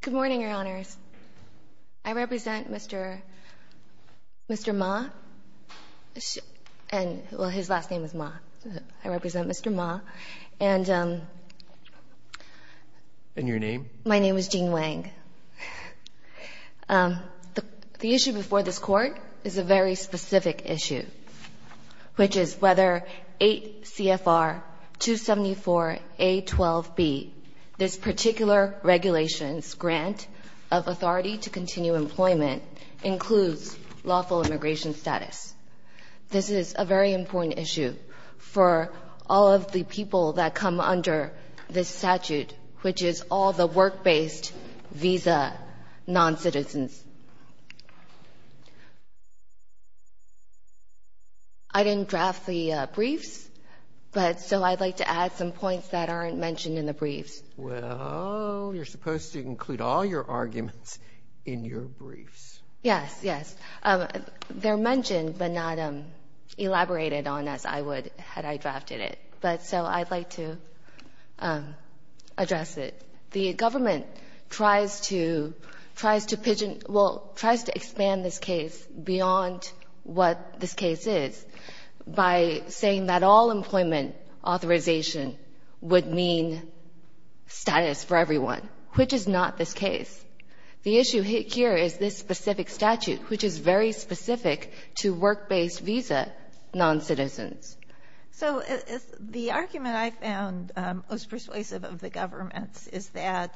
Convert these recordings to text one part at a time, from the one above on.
Good morning, Your Honors. I represent Mr. Ma, and his last name is Ma. I represent Mr. Ma. And your name? My name is Jean Wang. The issue before this court is a very specific issue, which is whether 8 CFR 274A12B, this particular regulation's grant of authority to continue employment, includes lawful immigration status. This is a very important issue for all of the people that come under this statute, which is all the work-based visa noncitizens. I didn't draft the briefs, but so I'd like to add some points that aren't mentioned in the briefs. Well, you're supposed to include all your arguments in your briefs. Yes, yes. They're mentioned but not elaborated on as I would had I drafted it. But so I'd like to address it. The government tries to expand this case beyond what this case is by saying that all employment authorization would mean status for everyone, which is not this case. The issue here is this specific statute, which is very specific to work-based visa noncitizens. So the argument I found most persuasive of the government's is that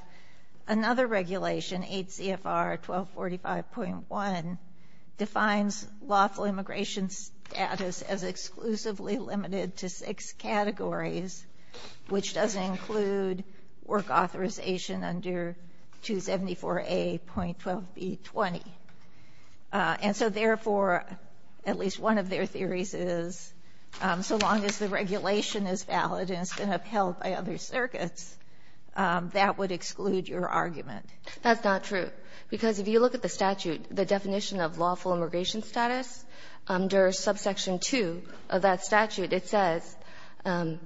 another regulation, 8 CFR 1245.1, defines lawful immigration status as exclusively limited to six categories, which does include work authorization under 274A.12B20. And so, therefore, at least one of their theories is so long as the regulation is valid and it's been upheld by other circuits, that would exclude your argument. That's not true, because if you look at the statute, the definition of lawful immigration status under subsection 2 of that statute, it says an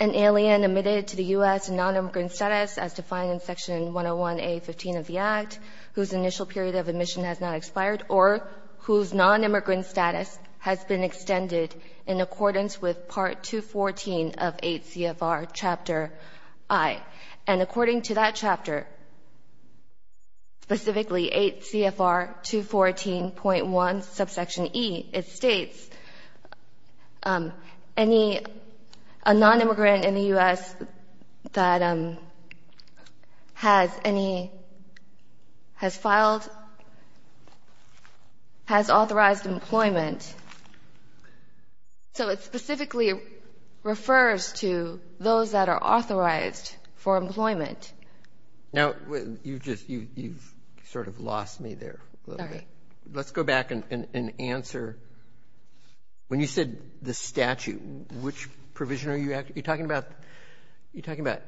alien admitted to the U.S. in nonimmigrant status as defined in Section 101A.15 of the Act, whose initial period of admission has not expired or whose nonimmigrant status has been extended in accordance with Part 214 of 8 CFR Chapter I. And according to that chapter, specifically 8 CFR 214.1 subsection E, it states any, a nonimmigrant in the U.S. that has any, has filed, has authorized employment. So it specifically refers to those that are authorized for employment. Now, you've just, you've sort of lost me there a little bit. Sorry. Let's go back and answer. When you said the statute, which provision are you talking about? Are you talking about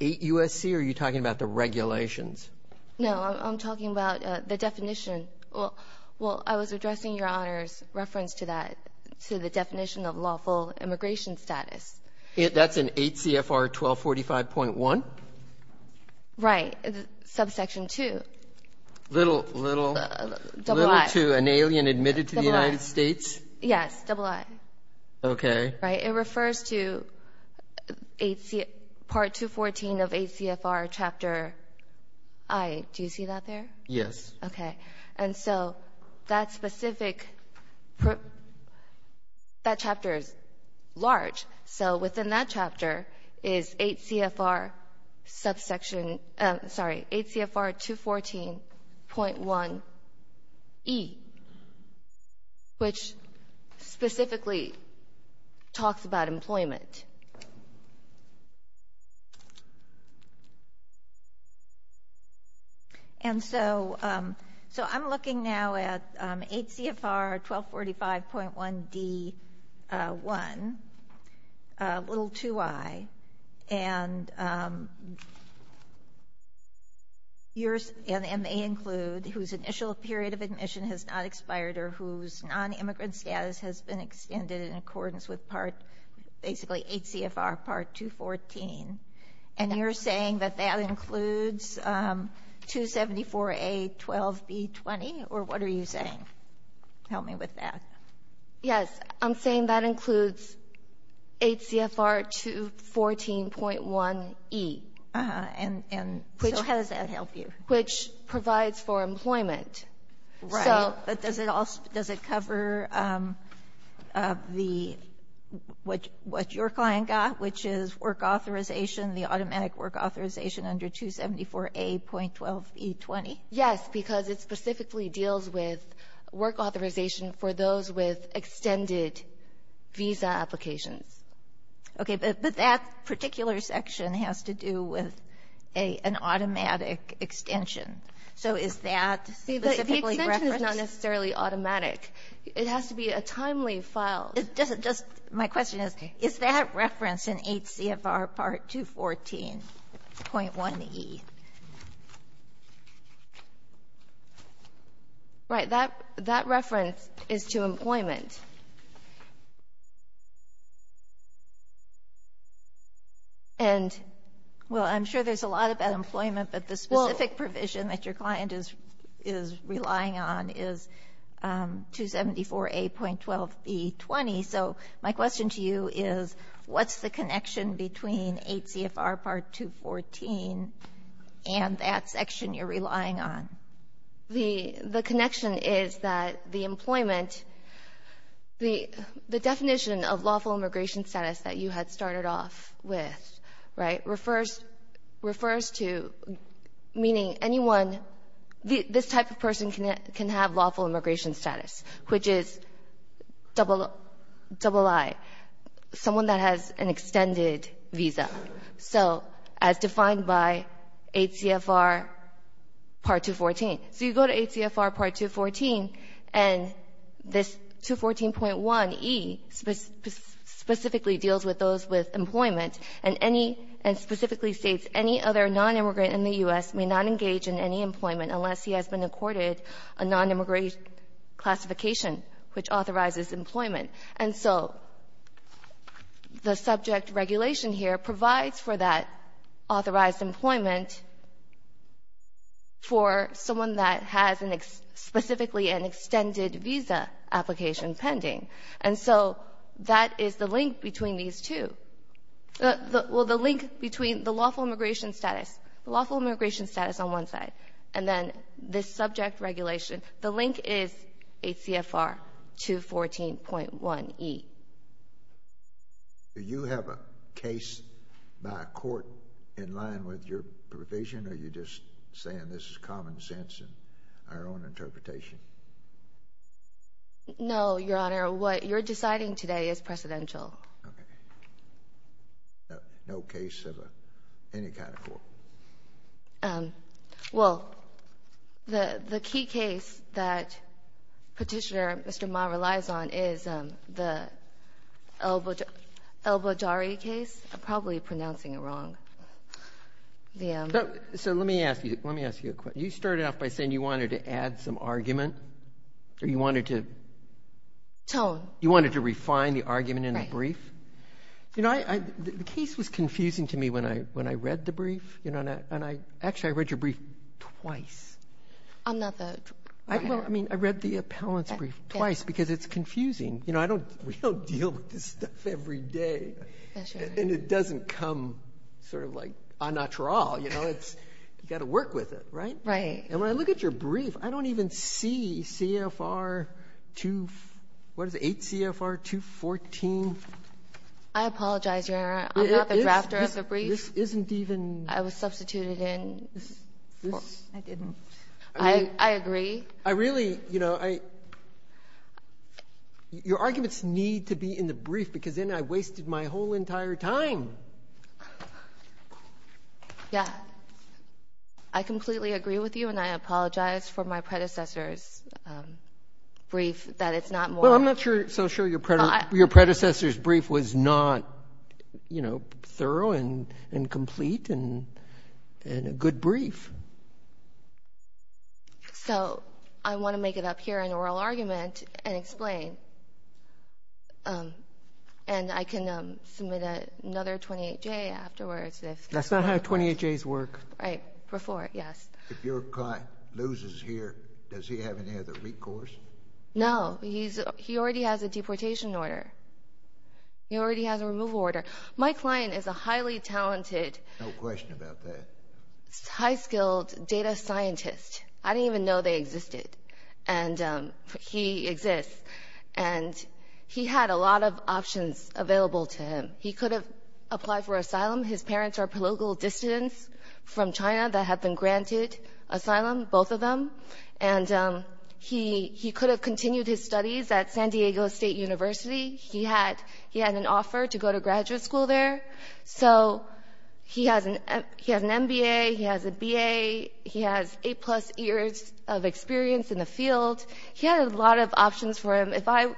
8 U.S.C., or are you talking about the regulations? No, I'm talking about the definition. Well, I was addressing Your Honor's reference to that, to the definition of lawful immigration status. That's in 8 CFR 1245.1? Right, subsection 2. Little to an alien admitted to the United States? Yes, double I. Okay. Right, it refers to Part 214 of 8 CFR Chapter I. Do you see that there? Yes. Okay. And so that specific, that chapter is large, so within that chapter is 8 CFR subsection, sorry, 8 CFR 214.1E, which specifically talks about employment. And so I'm looking now at 8 CFR 1245.1D1, little to I, and may include whose initial period of admission has not expired or whose non-immigrant status has been extended in accordance with Part, basically 8 CFR Part 214. And you're saying that that includes 274A12B20, or what are you saying? Help me with that. Yes, I'm saying that includes 8 CFR 214.1E. And so how does that help you? Which provides for employment. Right. But does it cover what your client got, which is work authorization, the automatic work authorization under 274A.12E20? Yes, because it specifically deals with work authorization for those with extended visa applications. Okay. But that particular section has to do with an automatic extension. So is that specifically referenced? See, the extension is not necessarily automatic. It has to be a timely file. It doesn't just my question is, is that referenced in 8 CFR Part 214.1E? Right. That reference is to employment. Well, I'm sure there's a lot about employment, but the specific provision that your client is relying on is 274A.12B20. So my question to you is, what's the connection between 8 CFR Part 214 and that section you're relying on? The connection is that the employment, the definition of lawful immigration status that you had started off with, right, refers to meaning anyone, this type of person can have lawful immigration status, which is double I. Someone that has an extended visa. So as defined by 8 CFR Part 214. So you go to 8 CFR Part 214, and this 214.1E specifically deals with those with employment and specifically states any other nonimmigrant in the U.S. may not engage in any employment unless he has been accorded a nonimmigrant classification, which authorizes employment. And so the subject regulation here provides for that authorized employment for someone that has specifically an extended visa application pending. And so that is the link between these two. Well, the link between the lawful immigration status, the lawful immigration status on one side, and then this subject regulation, the link is 8 CFR 214.1E. Do you have a case by a court in line with your provision, or are you just saying this is common sense in our own interpretation? No, Your Honor. What you're deciding today is precedential. Okay. No case of any kind of court. Well, the key case that Petitioner Mr. Ma relies on is the El-Bajari case. I'm probably pronouncing it wrong. So let me ask you a question. You started off by saying you wanted to add some argument, or you wanted to? Tone. You wanted to refine the argument in the brief. You know, the case was confusing to me when I read the brief. Actually, I read your brief twice. Another? Well, I mean, I read the appellant's brief twice because it's confusing. You know, we don't deal with this stuff every day, and it doesn't come sort of like a natural. You know, you've got to work with it, right? Right. And when I look at your brief, I don't even see CFR 2, what is it, 8 CFR 214. I apologize, Your Honor. I'm not the drafter of the brief. This isn't even. I was substituted in. I didn't. I agree. I really, you know, your arguments need to be in the brief because then I wasted my whole entire time. Yeah. I completely agree with you, and I apologize for my predecessor's brief that it's not more. Well, I'm not so sure your predecessor's brief was not, you know, thorough and complete and a good brief. So I want to make it up here in oral argument and explain, and I can submit another 28-J afterwards. That's not how 28-Js work. Right, before, yes. If your client loses here, does he have any other recourse? No. He already has a deportation order. He already has a removal order. My client is a highly talented. No question about that. High-skilled data scientist. I didn't even know they existed, and he exists, and he had a lot of options available to him. He could have applied for asylum. His parents are political dissidents from China that have been granted asylum, both of them. And he could have continued his studies at San Diego State University. He had an offer to go to graduate school there. So he has an MBA. He has a BA. He has eight-plus years of experience in the field. He had a lot of options for him. If I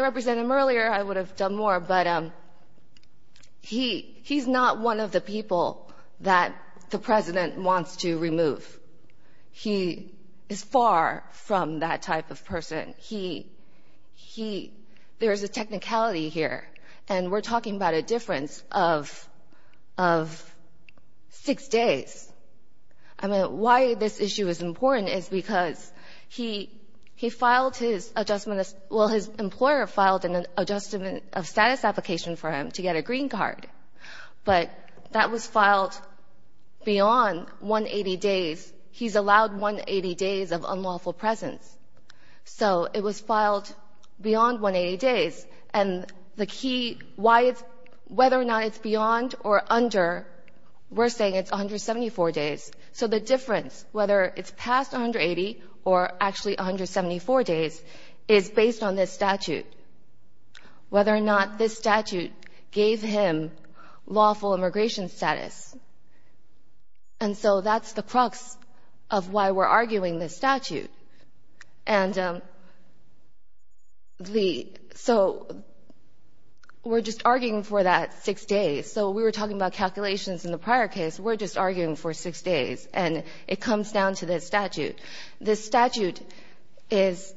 represented him earlier, I would have done more, but he's not one of the people that the president wants to remove. He is far from that type of person. There is a technicality here, and we're talking about a difference of six days. I mean, why this issue is important is because he filed his adjustment of — well, his employer filed an adjustment of status application for him to get a green card. But that was filed beyond 180 days. He's allowed 180 days of unlawful presence. So it was filed beyond 180 days. And the key why it's — whether or not it's beyond or under, we're saying it's 174 days. So the difference, whether it's past 180 or actually 174 days, is based on this statute, whether or not this statute gave him lawful immigration status. And so that's the crux of why we're arguing this statute. And the — so we're just arguing for that six days. So we were talking about calculations in the prior case. We're just arguing for six days. And it comes down to this statute. This statute is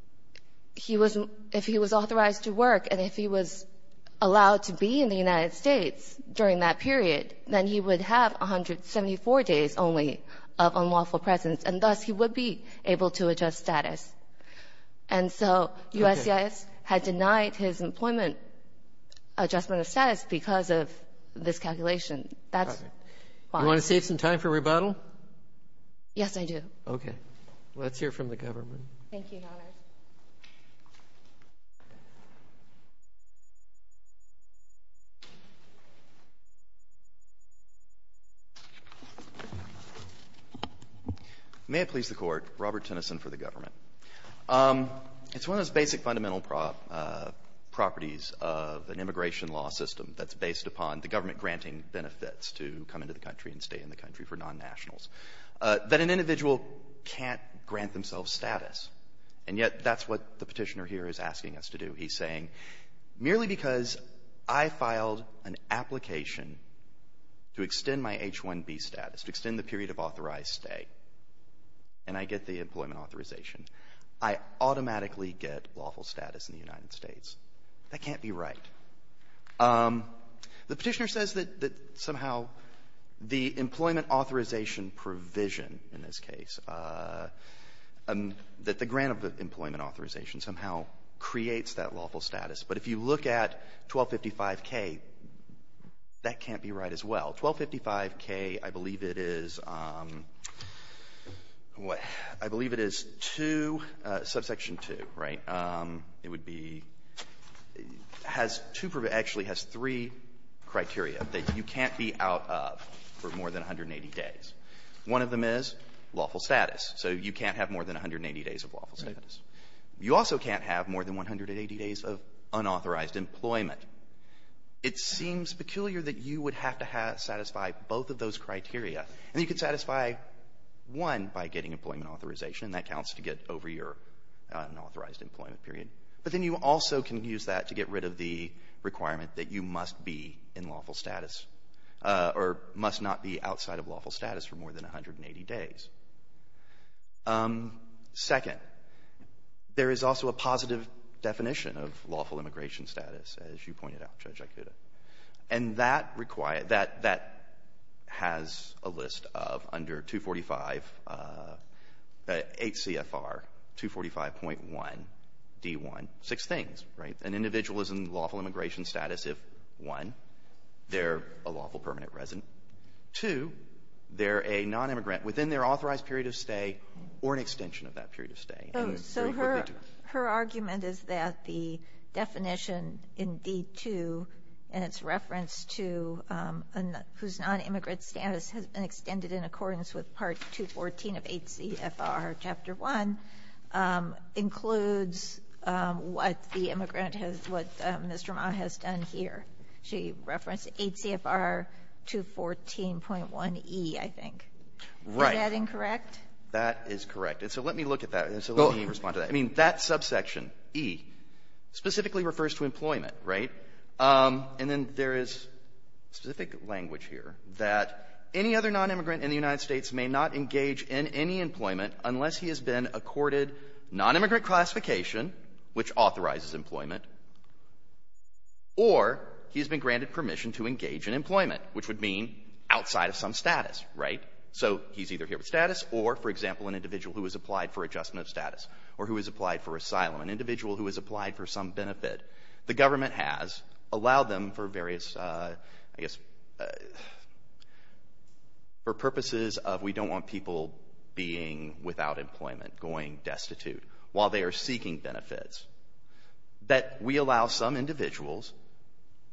— if he was authorized to work and if he was allowed to be in the United States during that period, then he would have 174 days only of unlawful presence. And thus, he would be able to adjust status. And so USCIS had denied his employment adjustment of status because of this calculation. That's why. Do you want to save some time for rebuttal? Yes, I do. Okay. Let's hear from the government. Thank you, Your Honor. May it please the Court. Robert Tennyson for the government. It's one of those basic fundamental properties of an immigration law system that's based upon the government granting benefits to come into the country and stay in the country for non-nationals, that an individual can't grant themselves status. And yet that's what the Petitioner here is asking us to do. He's saying, merely because I filed an application to extend my H-1B status, to extend the period of authorized stay, and I get the employment authorization, I automatically get lawful status in the United States. That can't be right. The Petitioner says that somehow the employment authorization provision in this case, that the grant of employment authorization somehow creates that lawful status. But if you look at 1255K, that can't be right as well. 1255K, I believe it is, what, I believe it is 2, subsection 2, right? It would be, has two, actually has three criteria that you can't be out of for more than 180 days. One of them is lawful status. So you can't have more than 180 days of lawful status. You also can't have more than 180 days of unauthorized employment. It seems peculiar that you would have to satisfy both of those criteria. And you could satisfy one by getting employment authorization, and that counts to get over your unauthorized employment period. But then you also can use that to get rid of the requirement that you must be in lawful status or must not be outside of lawful status for more than 180 days. Second, there is also a positive definition of lawful immigration status. As you pointed out, Judge Aikuda. And that has a list of under 245, 8 CFR, 245.1D1, six things, right? An individual is in lawful immigration status if, one, they're a lawful permanent resident, two, they're a nonimmigrant within their authorized period of stay or an extension of that period of stay. So her argument is that the definition in D2 and its reference to whose nonimmigrant status has been extended in accordance with Part 214 of 8 CFR Chapter 1 includes what the immigrant has, what Mr. Ma has done here. She referenced 8 CFR 214.1E, I think. Right. Is that incorrect? That is correct. And so let me look at that. And so let me respond to that. I mean, that subsection, E, specifically refers to employment, right? And then there is specific language here that any other nonimmigrant in the United States may not engage in any employment unless he has been accorded nonimmigrant classification, which authorizes employment, or he has been granted permission to engage in employment, which would mean outside of some status, right? So he's either here with status or, for example, an individual who has applied for adjustment of status or who has applied for asylum, an individual who has applied for some benefit. The government has allowed them for various, I guess, for purposes of we don't want people being without employment, going destitute, while they are seeking benefits, that we allow some individuals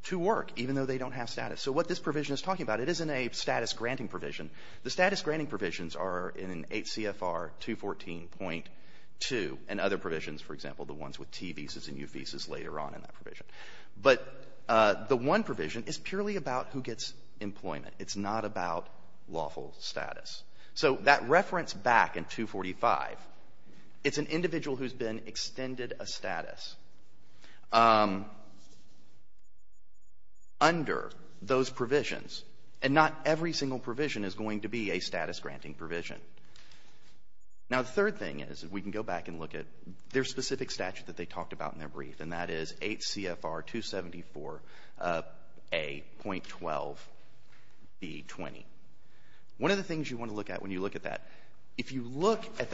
to work, even though they don't have status. So what this provision is talking about, it isn't a status granting provision. The status granting provisions are in H.C.F.R. 214.2 and other provisions, for example, the ones with T visas and U visas later on in that provision. But the one provision is purely about who gets employment. It's not about lawful status. So that reference back in 245, it's an individual who has been extended a status under those provisions. And not every single provision is going to be a status granting provision. Now, the third thing is, if we can go back and look at their specific statute that they talked about in their brief, and that is H.C.F.R. 274A.12B20. One of the things you want to look at when you look at that, if you look at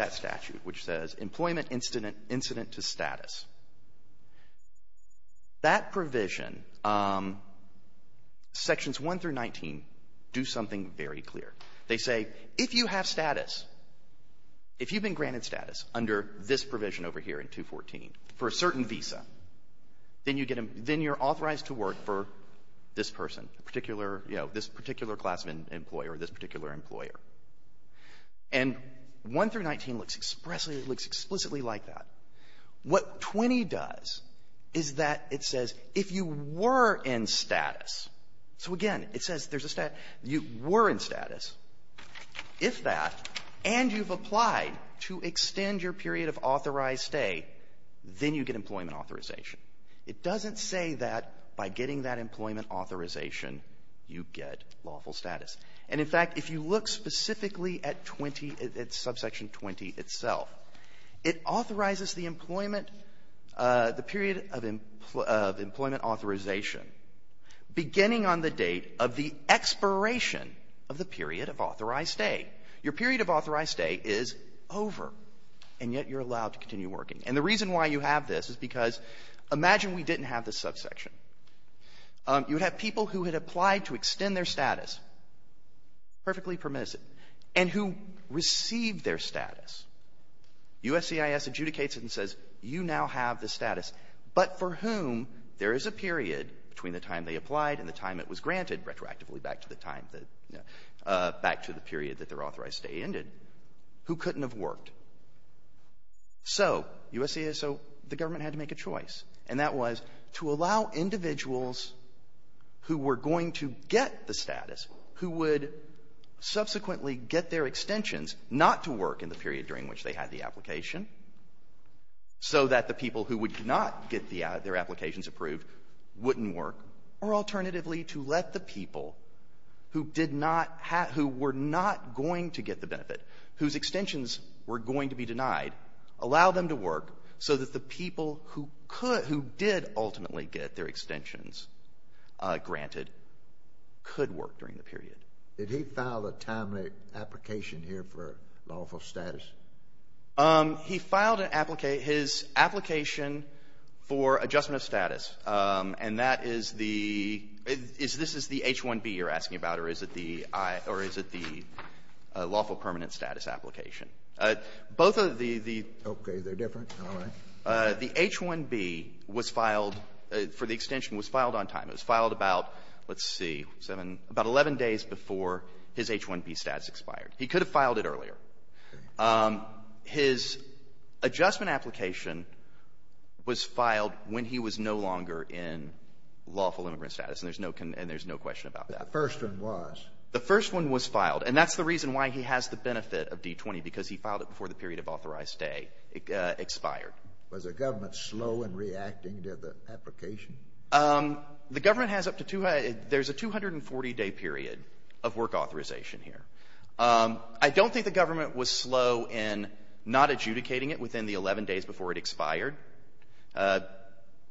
that provision, Sections 1 through 19 do something very clear. They say, if you have status, if you've been granted status under this provision over here in 214 for a certain visa, then you get a — then you're authorized to work for this person, a particular, you know, this particular class of employer or this particular employer. And 1 through 19 looks explicitly like that. What 20 does is that it says, if you were in status, so again, it says there's a — you were in status, if that, and you've applied to extend your period of authorized stay, then you get employment authorization. It doesn't say that by getting that employment authorization, you get lawful status. And, in fact, if you look specifically at 20, at subsection 20 itself, it authorizes the employment, the period of employment authorization beginning on the date of the expiration of the period of authorized stay. Your period of authorized stay is over, and yet you're allowed to continue working. And the reason why you have this is because imagine we didn't have this subsection. You would have people who had applied to extend their status, perfectly permissive, and who received their status. USCIS adjudicates it and says, you now have the status, but for whom there is a period between the time they applied and the time it was granted, retroactively back to the time, back to the period that their authorized stay ended, who couldn't have worked. So USCIS, so the government had to make a choice, and that was to allow individuals who were going to get the status, who would subsequently get their extensions, not to work in the period during which they had the application, so that the people who would not get their applications approved wouldn't work, or alternatively to let the people who did not have — who were not going to get the benefit, whose extensions were going to be denied, allow them to work so that the people who could ultimately get their extensions granted could work during the period. Did he file a timely application here for lawful status? He filed an — his application for adjustment of status, and that is the — this is the H-1B you're asking about, or is it the lawful permanent status application? Both of the — Okay. They're different. All right. The H-1B was filed — for the extension was filed on time. It was filed about, let's see, 7 — about 11 days before his H-1B status expired. He could have filed it earlier. His adjustment application was filed when he was no longer in lawful immigrant status, and there's no — and there's no question about that. The first one was. The first one was filed, and that's the reason why he has the benefit of D-20, because he filed it before the period of authorized stay expired. Was the government slow in reacting to the application? The government has up to — there's a 240-day period of work authorization here. I don't think the government was slow in not adjudicating it within the 11 days before it expired.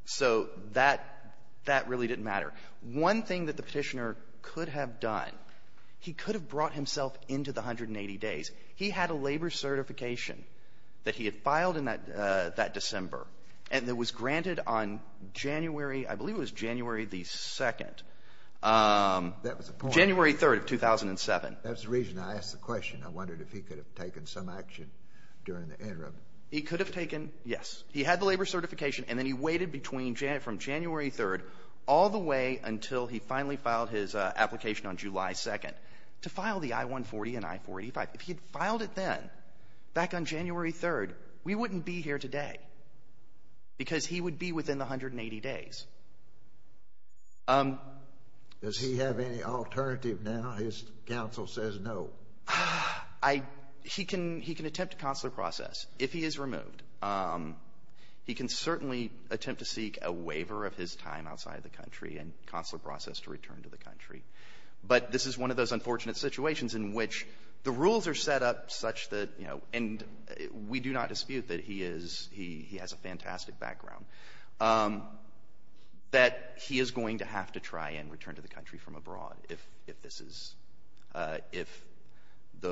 So that — that really didn't matter. One thing that the Petitioner could have done, he could have brought himself into the 180 days. He had a labor certification that he had filed in that December and that was granted on January — I believe it was January the 2nd. That was a point. January 3rd of 2007. That's the reason I asked the question. I wondered if he could have taken some action during the interim. He could have taken — yes. He had the labor certification, and then he waited between — from January 3rd all the way until he finally filed his application on July 2nd to file the I-140 and I-485. If he had filed it then, back on January 3rd, we wouldn't be here today, because he would be within the 180 days. Does he have any alternative now? His counsel says no. He can — he can attempt a consular process if he is removed. He can certainly attempt to seek a waiver of his time outside the country and a consular process to return to the country. But this is one of those unfortunate situations in which the rules are set up such that — and we do not dispute that he has a fantastic background — that he is going to have to try and return to the country from abroad if this is —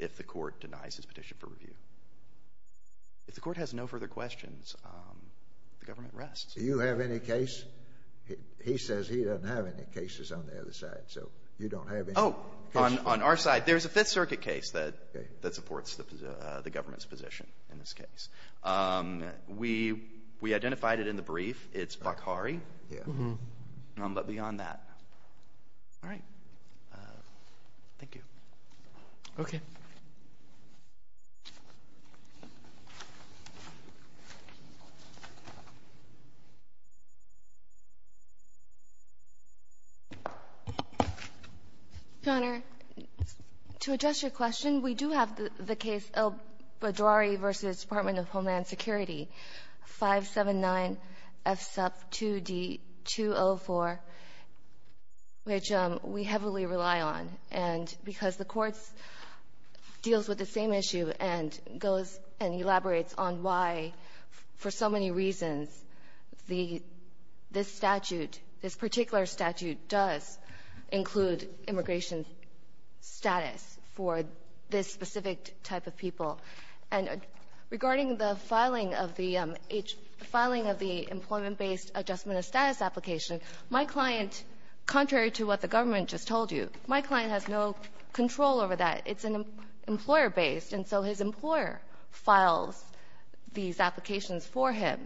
if the court denies his petition for review. If the court has no further questions, the government rests. Do you have any case? He says he doesn't have any cases on the other side, so you don't have any case? Oh, on our side, there's a Fifth Circuit case that supports the government's position in this case. We identified it in the brief. It's Bakhari. Yeah. But beyond that — all right. Thank you. Okay. Your Honor, to address your question, we do have the case El-Badrari v. Department of Homeland Security, 579F sub 2D204, which we heavily rely on. And because the Court deals with the same issue and goes and elaborates on why, for so many reasons, the — this statute, this particular statute does include immigration status for this specific type of people. And regarding the filing of the — filing of the employment-based adjustment of status application, my client, contrary to what the government just told you, my client has no control over that. It's an employer-based, and so his employer files these applications for him.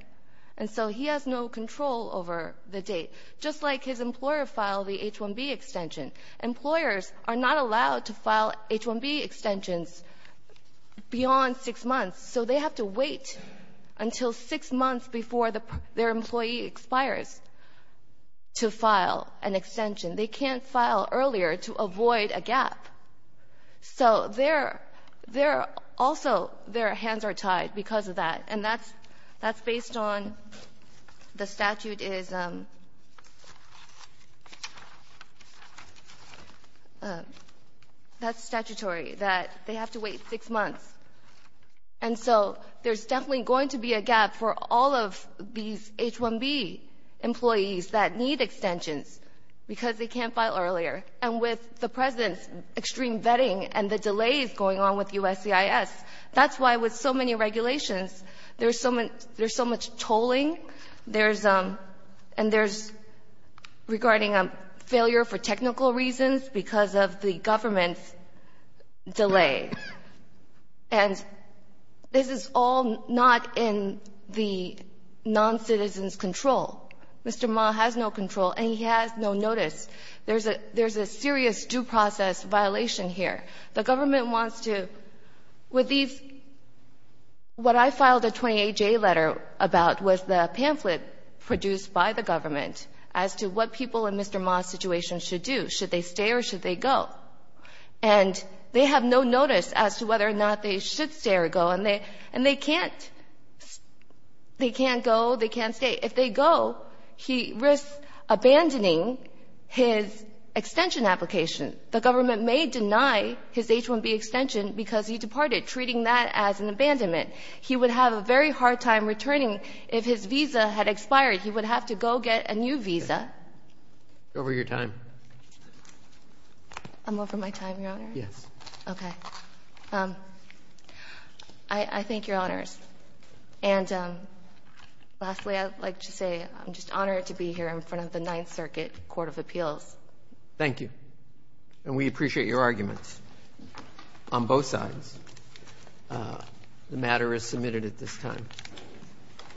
And so he has no control over the date, just like his employer filed the H-1B extension. Employers are not allowed to file H-1B extensions beyond six months, so they have to wait until six months before their employee expires to file an extension. They can't file earlier to avoid a gap. So they're — they're also — their hands are tied because of that, and that's — that's based on the statute is — that's statutory, that they have to wait six months. And so there's definitely going to be a gap for all of these H-1B employees that need extensions because they can't file earlier. And with the President's extreme vetting and the delays going on with USCIS, that's why with so many regulations, there's so much — there's so much tolling. There's — and there's — regarding a failure for technical reasons because of the government's delay. And this is all not in the noncitizen's control. Mr. Ma has no control, and he has no notice. There's a — there's a serious due process violation here. The government wants to — with these — what I filed a 28-J letter about was the pamphlet produced by the government as to what people in Mr. Ma's situation should do. Should they stay or should they go? And they have no notice as to whether or not they should stay or go. And they — and they can't — they can't go, they can't stay. If they go, he risks abandoning his extension application. The government may deny his H-1B extension because he departed, treating that as an abandonment. He would have a very hard time returning. If his visa had expired, he would have to go get a new visa. Over your time. I'm over my time, Your Honor? Yes. Okay. I thank Your Honors. And lastly, I'd like to say I'm just honored to be here in front of the Ninth Circuit Court of Appeals. Thank you. And we appreciate your arguments on both sides. The matter is submitted at this time.